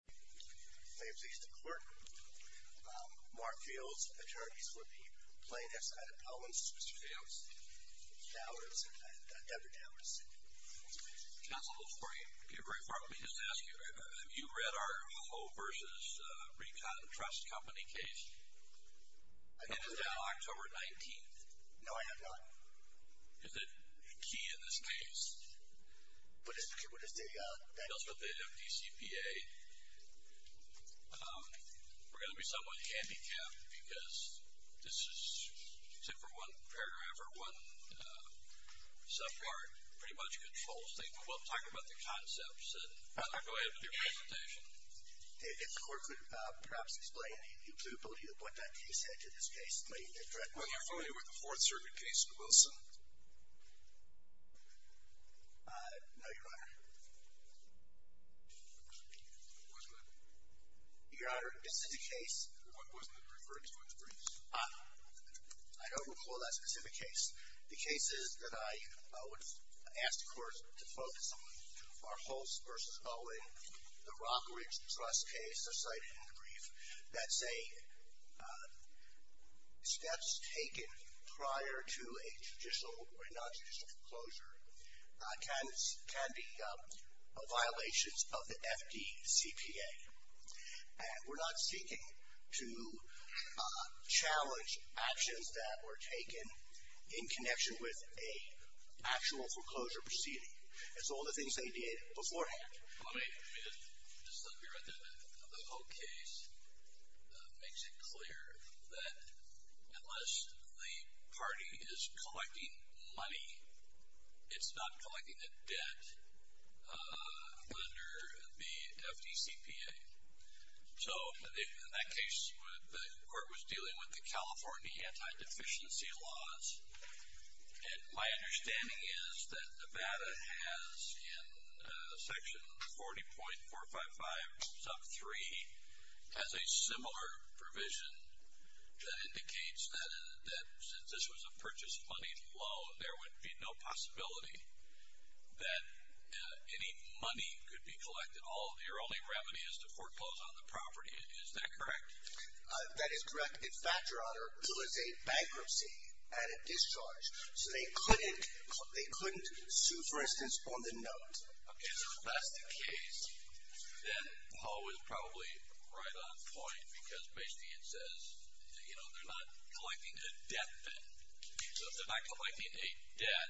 My name is Easton Clerk. Mark Fields, Attorneys for the plaintiff's side of Pelham, Mr. Fields. Dowers, Debra Dowers. Counsel, before you get very far, let me just ask you, have you read our Hullo vs. Recon Trust Company case? I have not. And it is now October 19th. No, I have not. Is it key in this case? What is the... It deals with the MDCPA. We're going to be somewhat handicapped because this is, except for one paragraph or one subpart, pretty much controls things. But we'll talk about the concepts and I'll go ahead with your presentation. If the court could perhaps explain the imputability of what that case had to this case. Are you familiar with the Fourth Circuit case in Wilson? No, Your Honor. Was it? Your Honor, this is the case. What was it referred to in the briefs? I don't recall that specific case. The cases that I would ask the court to focus on are Hulls vs. Bolling, the Rockridge Trust case cited in the brief, that say steps taken prior to a judicial or non-judicial foreclosure can be violations of the FDCPA. And we're not seeking to challenge actions that were taken in connection with an actual foreclosure proceeding. That's all the things they did beforehand. Let me, just let me write that down. The whole case makes it clear that unless the party is collecting money, it's not collecting a debt under the FDCPA. So in that case, the court was dealing with the California anti-deficiency laws. And my understanding is that Nevada has, in section 40.455 sub 3, has a similar provision that indicates that since this was a purchased money loan, there would be no possibility that any money could be collected. Your only remedy is to foreclose on the property. Is that correct? That is correct. In fact, Your Honor, there was a bankruptcy and a discharge. So they couldn't sue, for instance, on the note. If that's the case, then Hull is probably right on point. Because basically it says, you know, they're not collecting a debt then. So if they're not collecting a debt,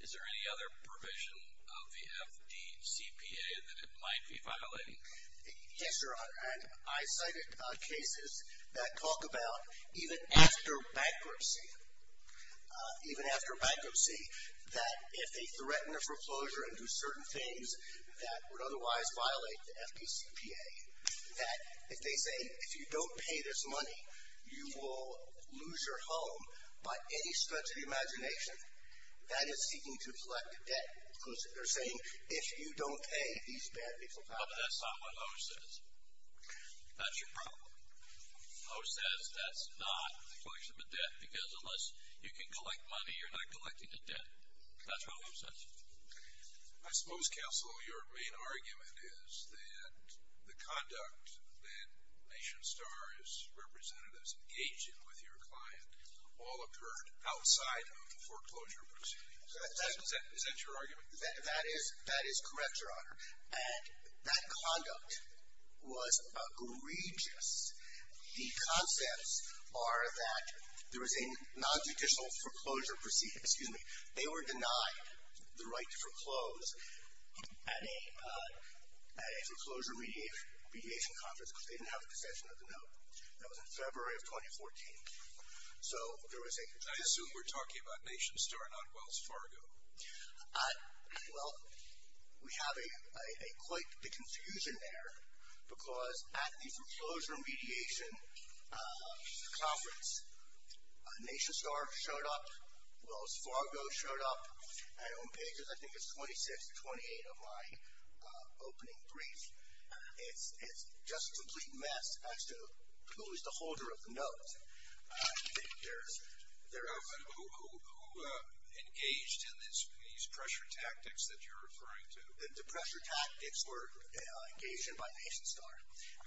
is there any other provision of the FDCPA that it might be violating? Yes, Your Honor. And I cited cases that talk about, even after bankruptcy, even after bankruptcy, that if they threaten a foreclosure and do certain things, that would otherwise violate the FDCPA. That if they say, if you don't pay this money, you will lose your home by any stretch of the imagination, that is seeking to collect a debt. They're saying, if you don't pay, these bad people die. But that's not what Hull says. That's your problem. Hull says that's not a collection of a debt. Because unless you can collect money, you're not collecting a debt. That's what Hull says. I suppose, counsel, your main argument is that the conduct that Nation Star's representatives engaged in with your client all occurred outside of the foreclosure proceedings. Is that your argument? That is correct, Your Honor. And that conduct was egregious. The concepts are that there was a non-judicial foreclosure proceeding. Excuse me. They were denied the right to foreclose at a foreclosure mediation conference because they didn't have a possession of the note. That was in February of 2014. So there was a- I assume we're talking about Nation Star, not Wells Fargo. Well, we have quite the confusion there because at the foreclosure mediation conference, Nation Star showed up, Wells Fargo showed up, and on pages, I think it's 26, 28 of my opening brief. It's just a complete mess as to who is the holder of the note. Who engaged in these pressure tactics that you're referring to? The pressure tactics were engaged in by Nation Star.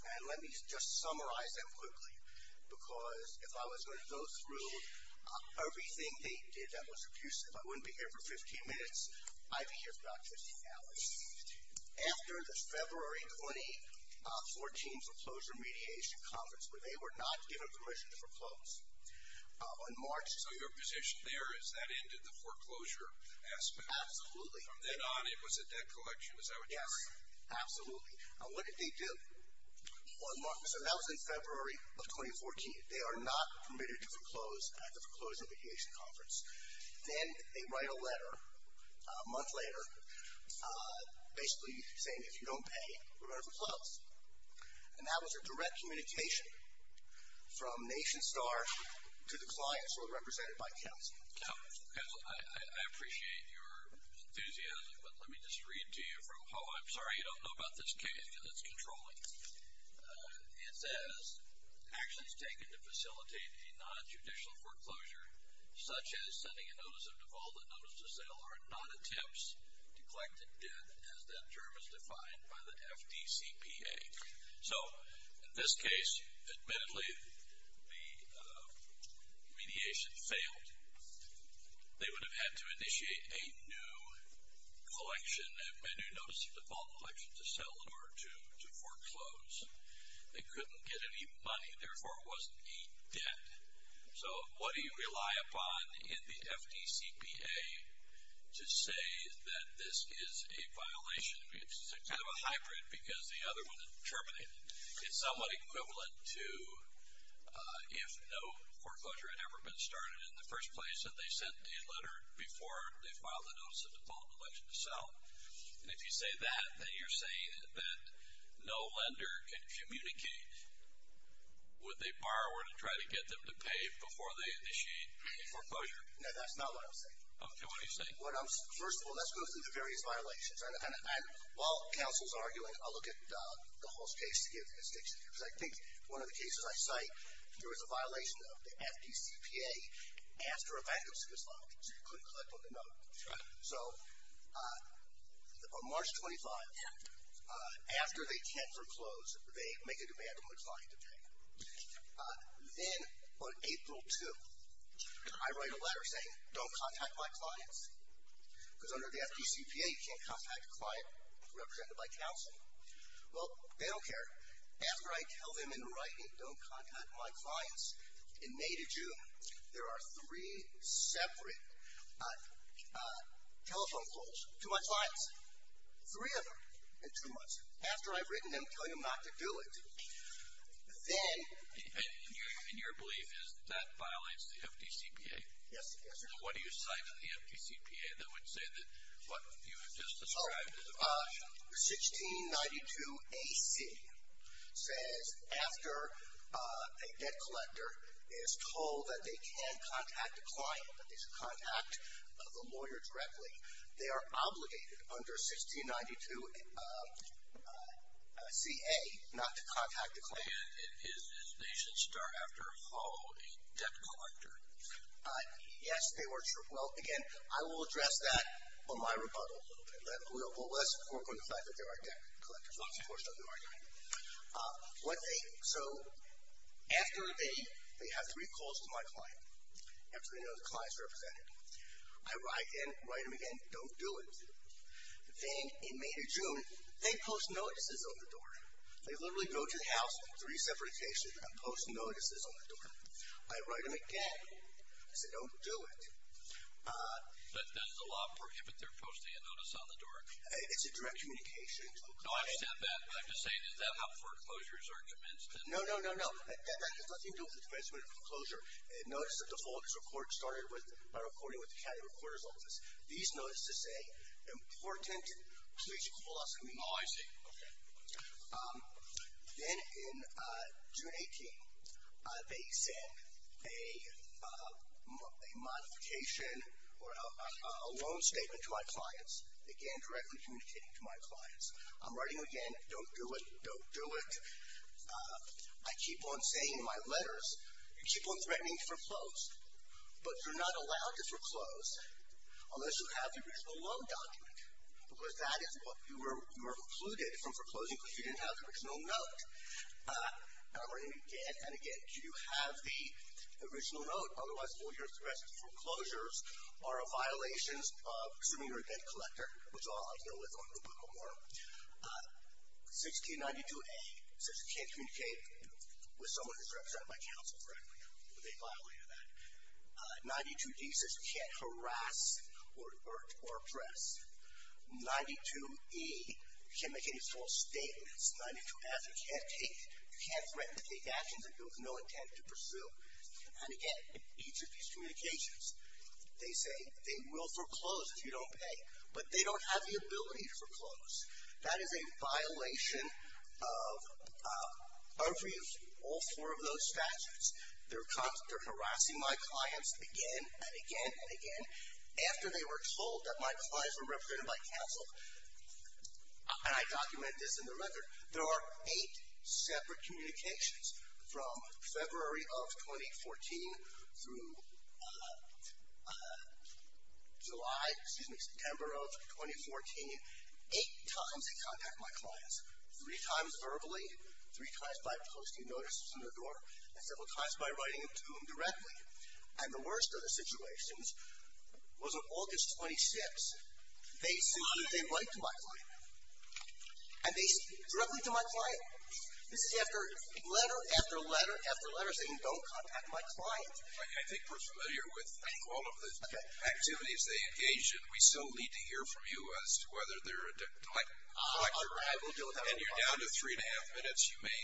And let me just summarize that quickly because if I was going to go through everything they did that was abusive, I wouldn't be here for 15 minutes. I'd be here for about 15 hours. After the February 2014 foreclosure mediation conference where they were not given permission to foreclose, on March- So your position there is that ended the foreclosure aspect? Absolutely. From then on, it was a debt collection, is that what you're saying? Yes, absolutely. What did they do on March- so that was in February of 2014. They are not permitted to foreclose at the foreclosure mediation conference. Then they write a letter a month later basically saying if you don't pay, we're going to foreclose. And that was a direct communication from Nation Star to the clients who were represented by counsel. Counsel, I appreciate your enthusiasm, but let me just read to you from- oh, I'm sorry, you don't know about this case because it's controlling. It says, actions taken to facilitate a non-judicial foreclosure such as sending a notice of default and notice to sell are not attempts to collect a debt as that term is defined by the FDCPA. So in this case, admittedly, the mediation failed. They would have had to initiate a new collection, a new notice of default collection to sell in order to foreclose. They couldn't get any money, therefore it wasn't a debt. So what do you rely upon in the FDCPA to say that this is a violation? It's kind of a hybrid because the other one terminated. It's somewhat equivalent to if no foreclosure had ever been started in the first place that they sent a letter before they filed a notice of default collection to sell. And if you say that, then you're saying that no lender can communicate with a borrower to try to get them to pay before they initiate a foreclosure. No, that's not what I'm saying. Okay, what are you saying? First of all, let's go through the various violations. And while counsel's arguing, I'll look at the Hulse case to give the distinction because I think one of the cases I cite, there was a violation of the FDCPA after a bankruptcy was filed. So you couldn't collect on the note. So on March 25, after they can't foreclose, they make a demand on the client to pay. Then on April 2, I write a letter saying don't contact my clients because under the FDCPA you can't contact a client represented by counsel. Well, they don't care. After I tell them in writing don't contact my clients in May to June, there are three separate telephone calls to my clients. Three of them in two months. After I've written them telling them not to do it, then. And your belief is that violates the FDCPA? Yes. What do you cite in the FDCPA that would say that what you have just described is a violation? 1692AC says after a debt collector is told that they can't contact the client, that they should contact the lawyer directly, they are obligated under 1692CA not to contact the client. And they should start after how a debt collector? Yes, they were. Well, again, I will address that on my rebuttal. Let's work on the fact that there are debt collectors. Of course, there are debt collectors. So after they have three calls to my client, after they know the client is represented, I write them again, don't do it. Then in May to June, they post notices on the door. They literally go to the house in three separate locations and post notices on the door. I write them again. I say don't do it. But does the law prohibit their posting a notice on the door? It's a direct communication. No, I understand that. But I'm just saying, is that how foreclosures are commenced? No, no, no, no. That has nothing to do with the commencement of a foreclosure. Notice that the folders report started by recording with the county recorder's office. These notices say, important. Oh, I see. Okay. Then in June 18, they send a modification or a loan statement to my clients, again, directly communicating to my clients. I'm writing them again, don't do it, don't do it. I keep on saying in my letters, you keep on threatening to foreclose, but you're not allowed to foreclose unless you have the reasonable loan document, because that is what you were precluded from foreclosing because you didn't have the original note. And I'm writing them again and again. Do you have the original note? Otherwise, all your threats to foreclosures are a violation of assuming you're a debt collector, which is all I deal with on the book of war. 1692A says you can't communicate with someone who's represented by counsel correctly. They violated that. 92D says you can't harass or oppress. 92E, you can't make any false statements. 92F, you can't threaten to take actions that you have no intent to pursue. And again, each of these communications, they say they will foreclose if you don't pay, but they don't have the ability to foreclose. That is a violation of all four of those statutes. They're harassing my clients again and again and again. After they were told that my clients were represented by counsel, and I document this in the record, there are eight separate communications from February of 2014 through July, excuse me, September of 2014. Eight times they contact my clients. Three times verbally. Three times by posting notices in the door. And several times by writing to them directly. And the worst of the situations was on August 26th. They said they'd write to my client. And they said directly to my client. This is after letter after letter after letter saying don't contact my client. I think we're familiar with all of the activities they engaged in. We still need to hear from you as to whether they're a debt collector. And you're down to three and a half minutes. You may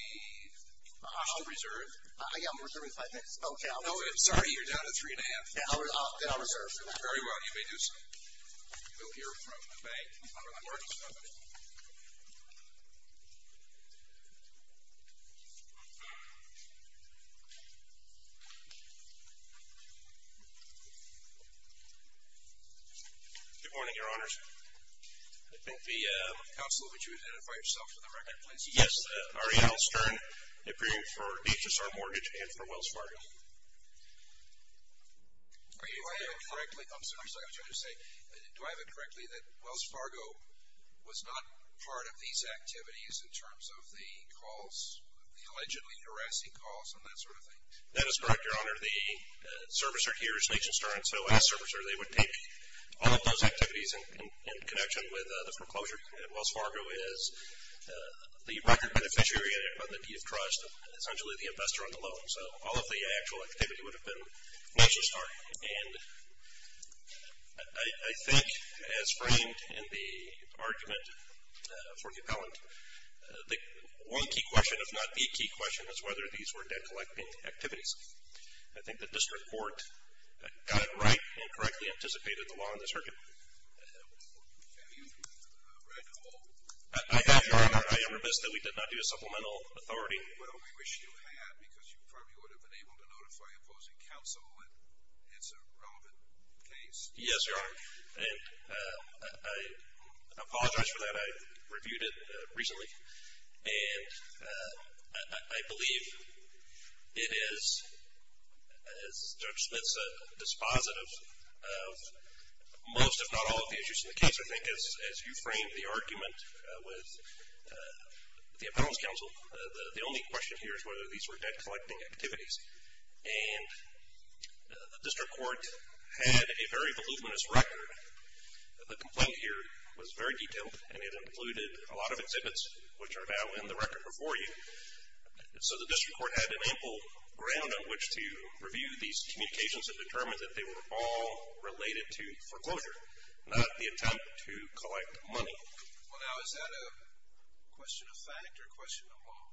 ask to reserve. I am reserving five minutes. No, I'm sorry. You're down to three and a half. Then I'll reserve. Very well. You may do so. We'll hear from the bank. Good morning, Your Honors. I think the counsel would you identify yourself for the record, please? Yes. Ariel Stern. I appear for Nature's Heart Mortgage and for Wells Fargo. Do I have it correctly? I'm sorry. I was going to say do I have it correctly that Wells Fargo was not part of these activities in terms of the calls, the allegedly harassing calls and that sort of thing? That is correct, Your Honor. The servicer here is Nature's Heart. So as a servicer, they would take all of those activities in connection with the foreclosure. And Wells Fargo is the record beneficiary of the Deed of Trust, essentially the investor on the loan. So all of the actual activity would have been Nature's Heart. And I think as framed in the argument for the appellant, the one key question, if not the key question, is whether these were debt collecting activities. I think the district court got it right and correctly anticipated the law in the circuit. Can you recall? I have, Your Honor. I am remiss that we did not do a supplemental authority. Well, we wish you had because you probably would have been able to notify opposing counsel that it's a relevant case. Yes, Your Honor. And I apologize for that. I reviewed it recently. And I believe it is, as Judge Smith said, dispositive of most, if not all, of the issues in the case, I think, as you framed the argument with the appellant's counsel. The only question here is whether these were debt collecting activities. And the district court had a very voluminous record. The complaint here was very detailed, and it included a lot of exhibits which are now in the record before you. So the district court had an ample ground on which to review these communications and determine that they were all related to foreclosure, not the attempt to collect money. Well, now, is that a question of fact or a question of law?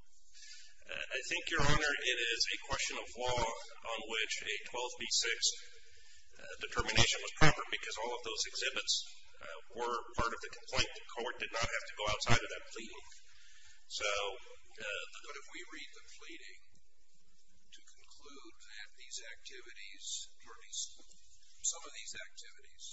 I think, Your Honor, it is a question of law on which a 12B6 determination was proper because all of those exhibits were part of the complaint. The court did not have to go outside of that pleading. But if we read the pleading to conclude that these activities, or at least some of these activities,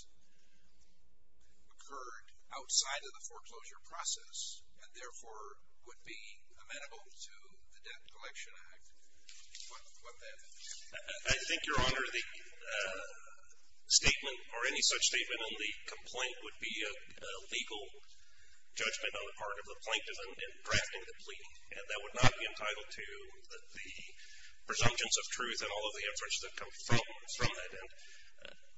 occurred outside of the foreclosure process and, therefore, would be amenable to the Debt Collection Act, what then? I think, Your Honor, the statement or any such statement in the complaint would be a legal judgment on the part of the plaintiff in drafting the plea. And that would not be entitled to the presumptions of truth and all of the inferences that come from that.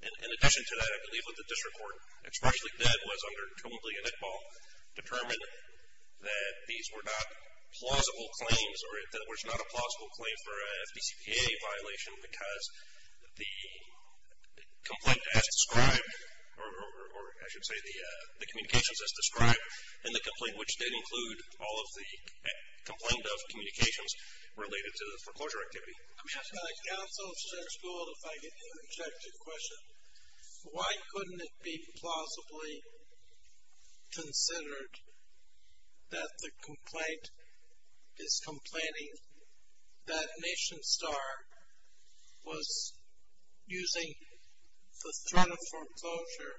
And in addition to that, I believe what the district court expressly did was, under Trumpley and Iqbal, determine that these were not plausible claims or, in other words, not a plausible claim for a FDCPA violation because the complaint as described, or I should say the communications as described, in the complaint which did include all of the complaint of communications related to the foreclosure activity. I'm just going to counsel Judge Gould if I can interject a question. Why couldn't it be plausibly considered that the complaint is complaining that Nation Star was using the threat of foreclosure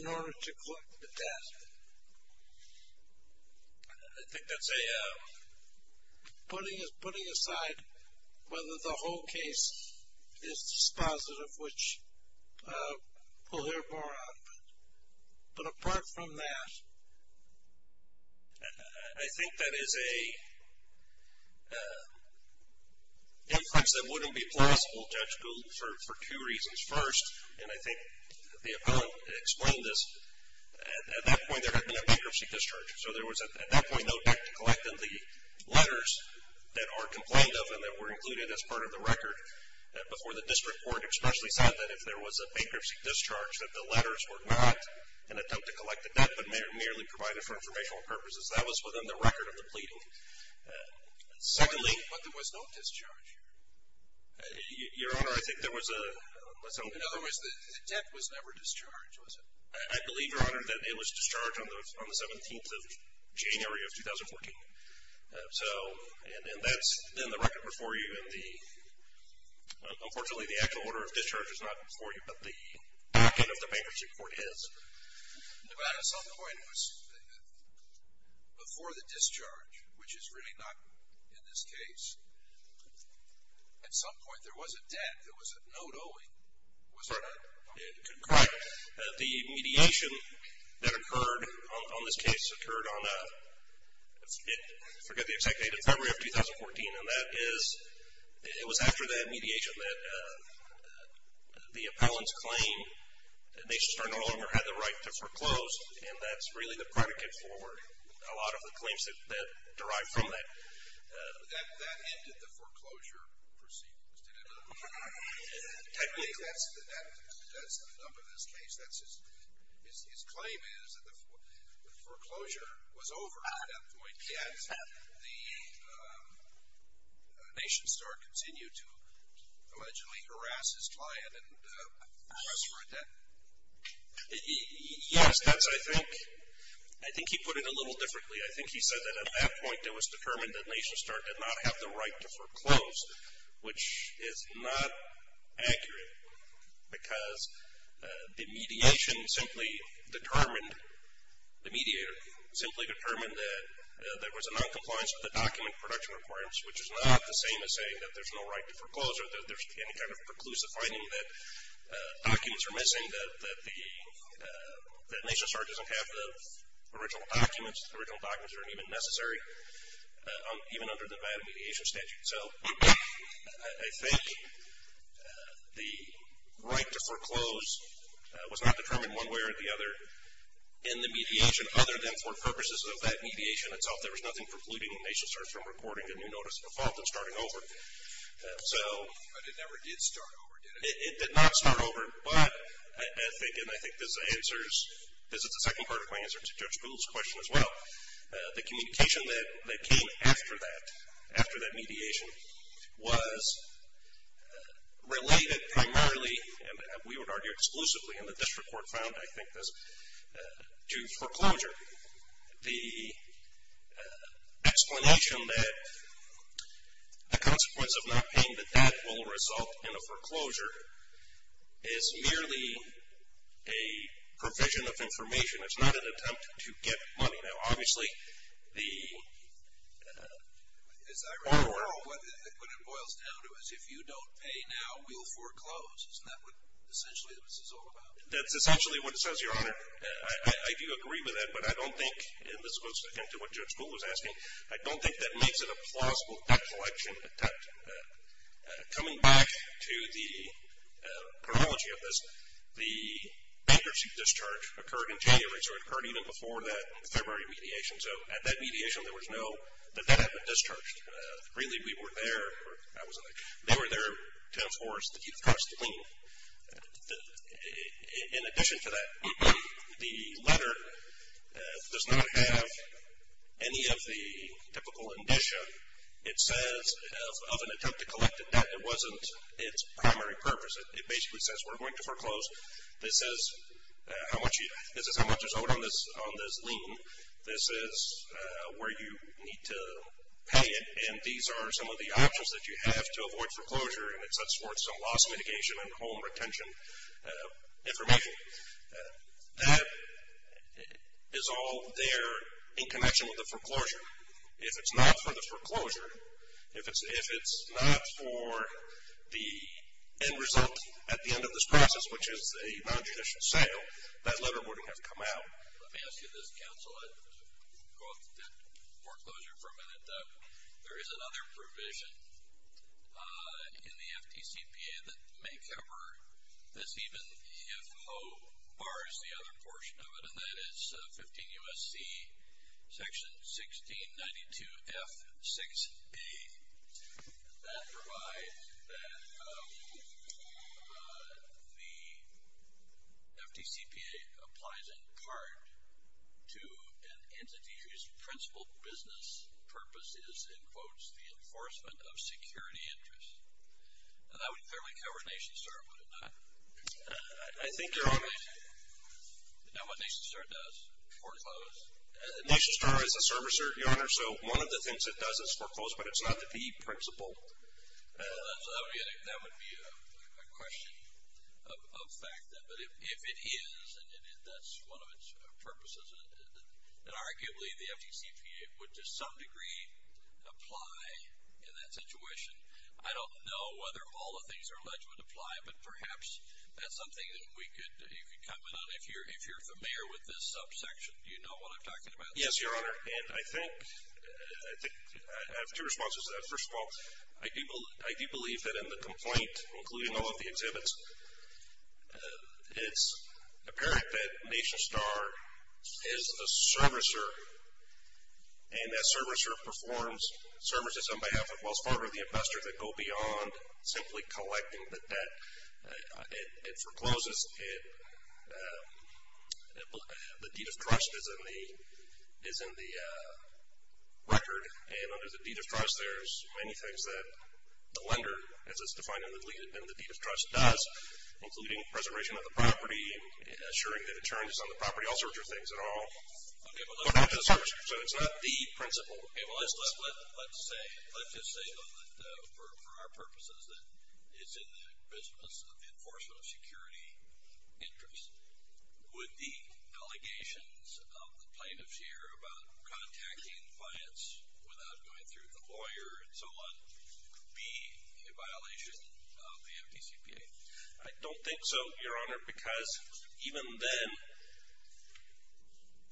in order to collect the debt? I think that's a putting aside whether the whole case is dispositive of which we'll hear more of. But apart from that, I think that is an inference that wouldn't be plausible, Judge Gould, for two reasons. First, and I think the appellant explained this, at that point there had been a bankruptcy discharge. So there was at that point no debt to collect in the letters that are complained of and that were included as part of the record before the district court especially said that if there was a bankruptcy discharge, that the letters were not an attempt to collect the debt, but merely provided for informational purposes. That was within the record of the pleading. Secondly, but there was no discharge. Your Honor, I think there was a... In other words, the debt was never discharged, was it? I believe, Your Honor, that it was discharged on the 17th of January of 2014. And that's then the record before you. Unfortunately, the actual order of discharge is not before you, but the back end of the bankruptcy court is. Your Honor, at some point it was before the discharge, which is really not in this case. At some point there was a debt. There was a note owing. Correct. The mediation that occurred on this case occurred on, I forget the exact date, in February of 2014, and that is it was after that mediation that the appellant's claim that they no longer had the right to foreclose, and that's really the predicate for a lot of the claims that derive from that. That ended the foreclosure proceedings, didn't it? Technically. That's the number in this case. His claim is that the foreclosure was over at that point, yet the Nation Star continued to allegedly harass his client and ask for a debt. Yes, that's I think... I think he put it a little differently. I think he said that at that point it was determined that Nation Star did not have the right to foreclose, which is not accurate because the mediation simply determined, the mediator simply determined that there was a noncompliance with the document production requirements, which is not the same as saying that there's no right to foreclose or that there's any kind of preclusive finding that documents are missing, that Nation Star doesn't have the original documents. The original documents aren't even necessary, even under the Nevada Mediation Statute. So I think the right to foreclose was not determined one way or the other in the mediation, other than for purposes of that mediation itself. There was nothing precluding Nation Star from recording a new notice of default and starting over. But it never did start over, did it? It did not start over, but I think, and I think this answers, this is the second part of my answer to Judge Boole's question as well, the communication that came after that, after that mediation, was related primarily, and we would argue exclusively, and the district court found, I think, this, to foreclosure. The explanation that the consequence of not paying the debt will result in a foreclosure is merely a provision of information. It's not an attempt to get money. Now, obviously, the... As I recall, what it boils down to is if you don't pay now, we'll foreclose. Isn't that what, essentially, this is all about? That's essentially what it says, Your Honor. I do agree with that, but I don't think, and this goes into what Judge Boole was asking, I don't think that makes it a plausible collection attempt. Coming back to the chronology of this, the bankruptcy discharge occurred in January, so it occurred even before that February mediation. So at that mediation, there was no debt that had been discharged. Really, we were there, or I wasn't there. They were there to enforce, to keep the trust clean. In addition to that, the letter does not have any of the typical indicia. It says of an attempt to collect a debt, it wasn't its primary purpose. It basically says we're going to foreclose. This is how much is owed on this lien. This is where you need to pay it, and these are some of the options that you have to avoid foreclosure, and it sets forth some loss mitigation and home retention information. That is all there in connection with the foreclosure. If it's not for the foreclosure, if it's not for the end result at the end of this process, which is a nonjudicial sale, that letter wouldn't have come out. Let me ask you this, counsel. I'd like to go off the debt foreclosure for a minute. There is another provision in the FDCPA that may cover this, and the EFO bars the other portion of it, and that is 15 U.S.C. section 1692F6A. That provides that the FDCPA applies in part to an entity whose principal business purpose is, in quotes, the enforcement of security interests. That would clearly cover NationStar, would it not? I think you're on it. Is that what NationStar does, foreclose? NationStar is a servicer, Your Honor, so one of the things it does is foreclose, but it's not the principal. So that would be a question of fact, but if it is and that's one of its purposes, then arguably the FDCPA would to some degree apply in that situation. I don't know whether all of these are alleged to apply, but perhaps that's something that you could comment on. If you're familiar with this subsection, do you know what I'm talking about? Yes, Your Honor, and I think I have two responses to that. First of all, I do believe that in the complaint, including all of the exhibits, it's apparent that NationStar is a servicer, and that servicer performs services on behalf of Wells Fargo, the investors that go beyond simply collecting the debt. It forecloses. The deed of trust is in the record, and under the deed of trust there's many things that the lender, as it's defined in the deed of trust, does, including preservation of the property, assuring that insurance is on the property, all sorts of things at all. Okay, so it's not the principle. Okay, well, let's just say, for our purposes, that it's in the business of the enforcement of security interests. Would the allegations of the plaintiffs here about contacting clients without going through the lawyer and so on be a violation of the FDCPA? I don't think so, Your Honor, because even then,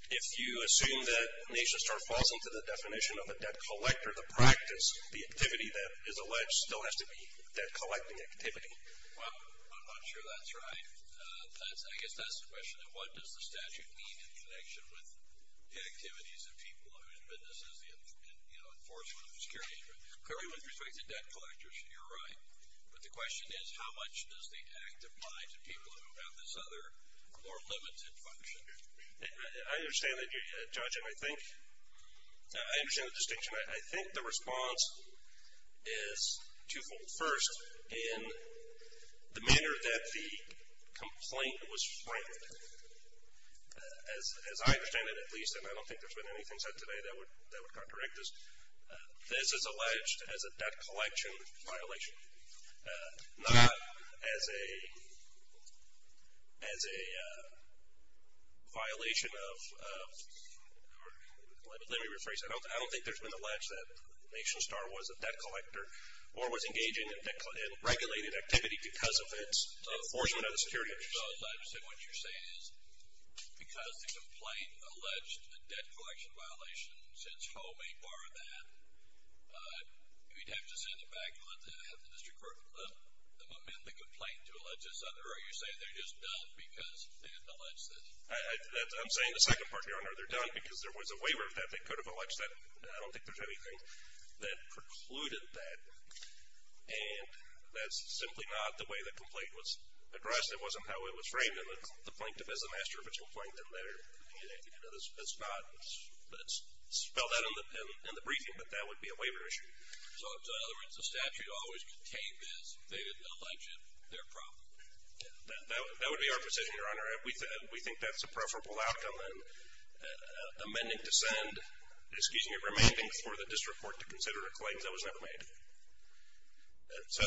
if you assume that NationStar falls into the definition of a debt collector, the practice, the activity that is alleged, still has to be debt-collecting activity. Well, I'm not sure that's right. I guess that's the question, and what does the statute mean in connection with the activities of people whose business is the enforcement of security interests? Clearly, with respect to debt collectors, you're right, but the question is how much does the act apply to people who have this other more limited function? I understand that, Judge, and I think the response is twofold. First, in the manner that the complaint was framed, as I understand it at least, and I don't think there's been anything said today that would contradict this, this is alleged as a debt-collection violation, not as a violation of, let me rephrase that, I don't think there's been an allege that NationStar was a debt collector or was engaging in regulated activity because of its enforcement of security interests. I understand what you're saying is because the complaint alleged a debt-collection violation and since FOA may bar that, you'd have to send it back. You'll have to have the district court amend the complaint to allege this under. Are you saying they're just done because they didn't allege this? I'm saying the second part, Your Honor, they're done because there was a waiver that they could have alleged that. I don't think there's anything that precluded that, and that's simply not the way the complaint was addressed. It wasn't how it was framed, and the plaintiff is the master of its own plaintiff. It's not spelled out in the briefing, but that would be a waiver issue. So, in other words, the statute always contained this. They didn't allege it. They're proper. That would be our position, Your Honor. We think that's a preferable outcome than amending to send, excuse me, remanding for the district court to consider a claim that was never made. So,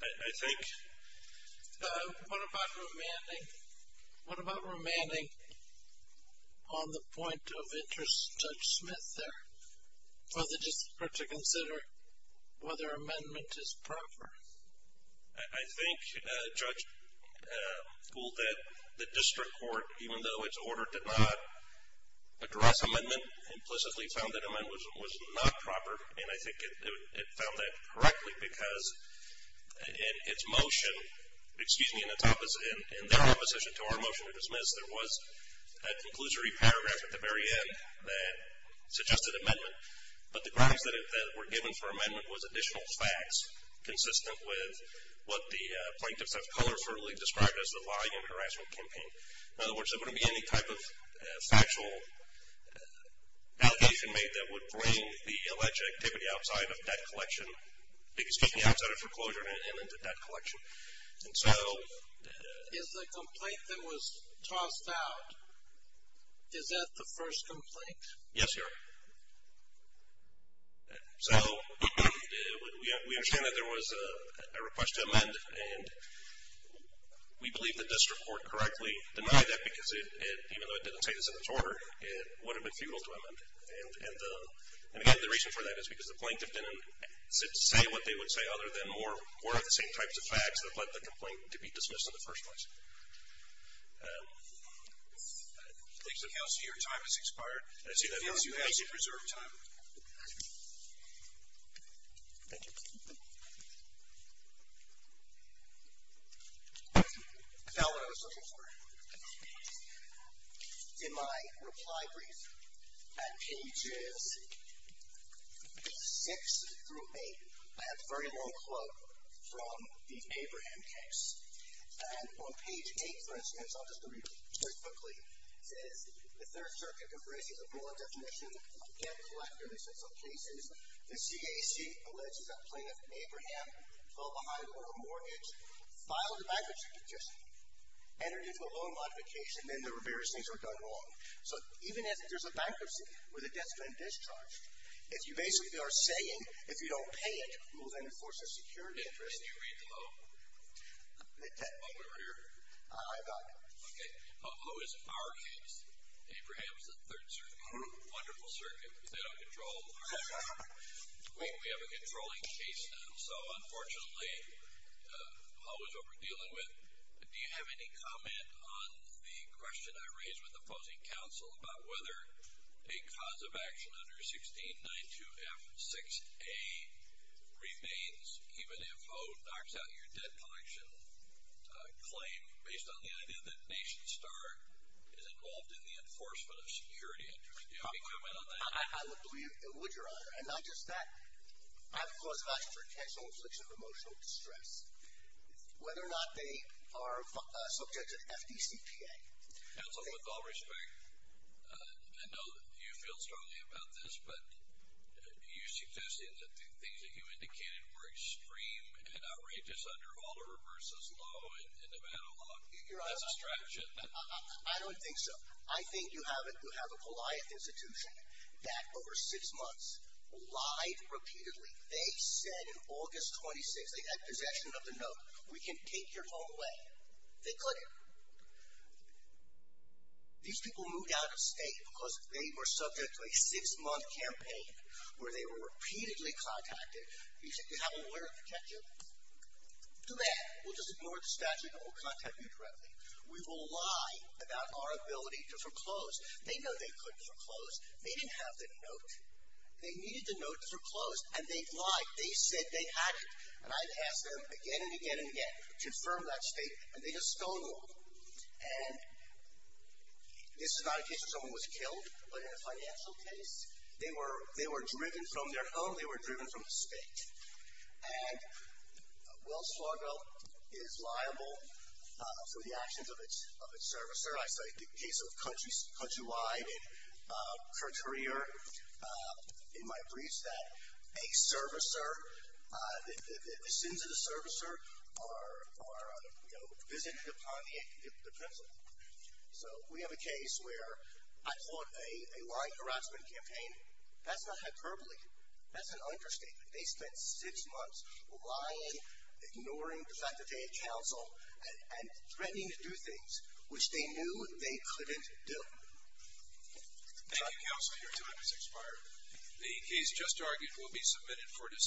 I think. What about remanding? What about remanding on the point of interest, Judge Smith, there, for the district court to consider whether amendment is proper? I think, Judge, the district court, even though its order did not address amendment, implicitly found that amendment was not proper, and I think it found that correctly because in its motion, excuse me, in their opposition to our motion to dismiss, there was a conclusory paragraph at the very end that suggested amendment, but the grounds that were given for amendment was additional facts consistent with what the plaintiffs have colorfully described as the volume of harassment campaign. In other words, there wouldn't be any type of factual allegation made that would bring the alleged activity outside of debt collection, excuse me, outside of foreclosure and into debt collection. And so. Is the complaint that was tossed out, is that the first complaint? Yes, Your Honor. So, we understand that there was a request to amend, and we believe that the district court correctly denied that because even though it didn't say it was in its order, it would have been futile to amend. And, again, the reason for that is because the plaintiff didn't say what they would say other than more of the same types of facts that led the complaint to be dismissed in the first place. I think, Counselor, your time has expired. I see that. Counselor, you have some reserved time. Thank you. I found what I was looking for. In my reply brief, at pages 6 through 8, I have a very long quote from the Abraham case. And on page 8, for instance, I'll just read it very quickly. It says the Third Circuit embraces a broad definition of debt collectors in some cases. The CAC alleges that Plaintiff Abraham fell behind on a mortgage, filed a bankruptcy petition, entered into a loan modification, and then there were various things were done wrong. So, even if there's a bankruptcy where the debt's been discharged, if you basically are saying if you don't pay it, who will then enforce the security interest? Can you read the quote? The quote over here? I got it. Okay. Who is in our case? Abraham is the Third Circuit. Wonderful Circuit. They don't control our case. We have a controlling case now. So, unfortunately, always what we're dealing with. Do you have any comment on the question I raised with opposing counsel about whether a cause of action under 1692F6A remains even if O knocks out your debt collection claim based on the idea that Nation Star is involved in the enforcement of security interest? Do you have any comment on that? I would believe it would, Your Honor. And not just that. I have a cause of action for intentional infliction of emotional distress. Whether or not they are subject to FDCPA. Counsel, with all respect, I know that you feel strongly about this, but you suggested that the things that you indicated were extreme and outrageous under Alderer v. Lowe in Nevada law. That's abstraction. I don't think so. I think you have it. You have a polite institution that, over six months, lied repeatedly. They said in August 26, they had possession of the note. We can take your home away. They couldn't. These people moved out of state because they were subject to a six-month campaign where they were repeatedly contacted. You think they have a lawyer to protect you? Too bad. We'll just ignore the statute and we'll contact you directly. We will lie about our ability to foreclose. They know they couldn't foreclose. They didn't have the note. They needed the note to foreclose, and they lied. They said they hadn't. And I've asked them again and again and again to confirm that state, and they just don't know. And this is not a case where someone was killed, but in a financial case, they were driven from their home, they were driven from the state. And Wells Fargo is liable for the actions of its servicer. I studied the case of Countrywide and Courtier in my briefs that a servicer, the sins of the servicer are visited upon the pencil. So we have a case where I caught a lying harassment campaign. That's not hyperbole. That's an understatement. They spent six months lying, ignoring the fact that they had counsel, and threatening to do things, which they knew they couldn't do. Thank you, counsel. Your time has expired. The case just argued will be submitted for decision.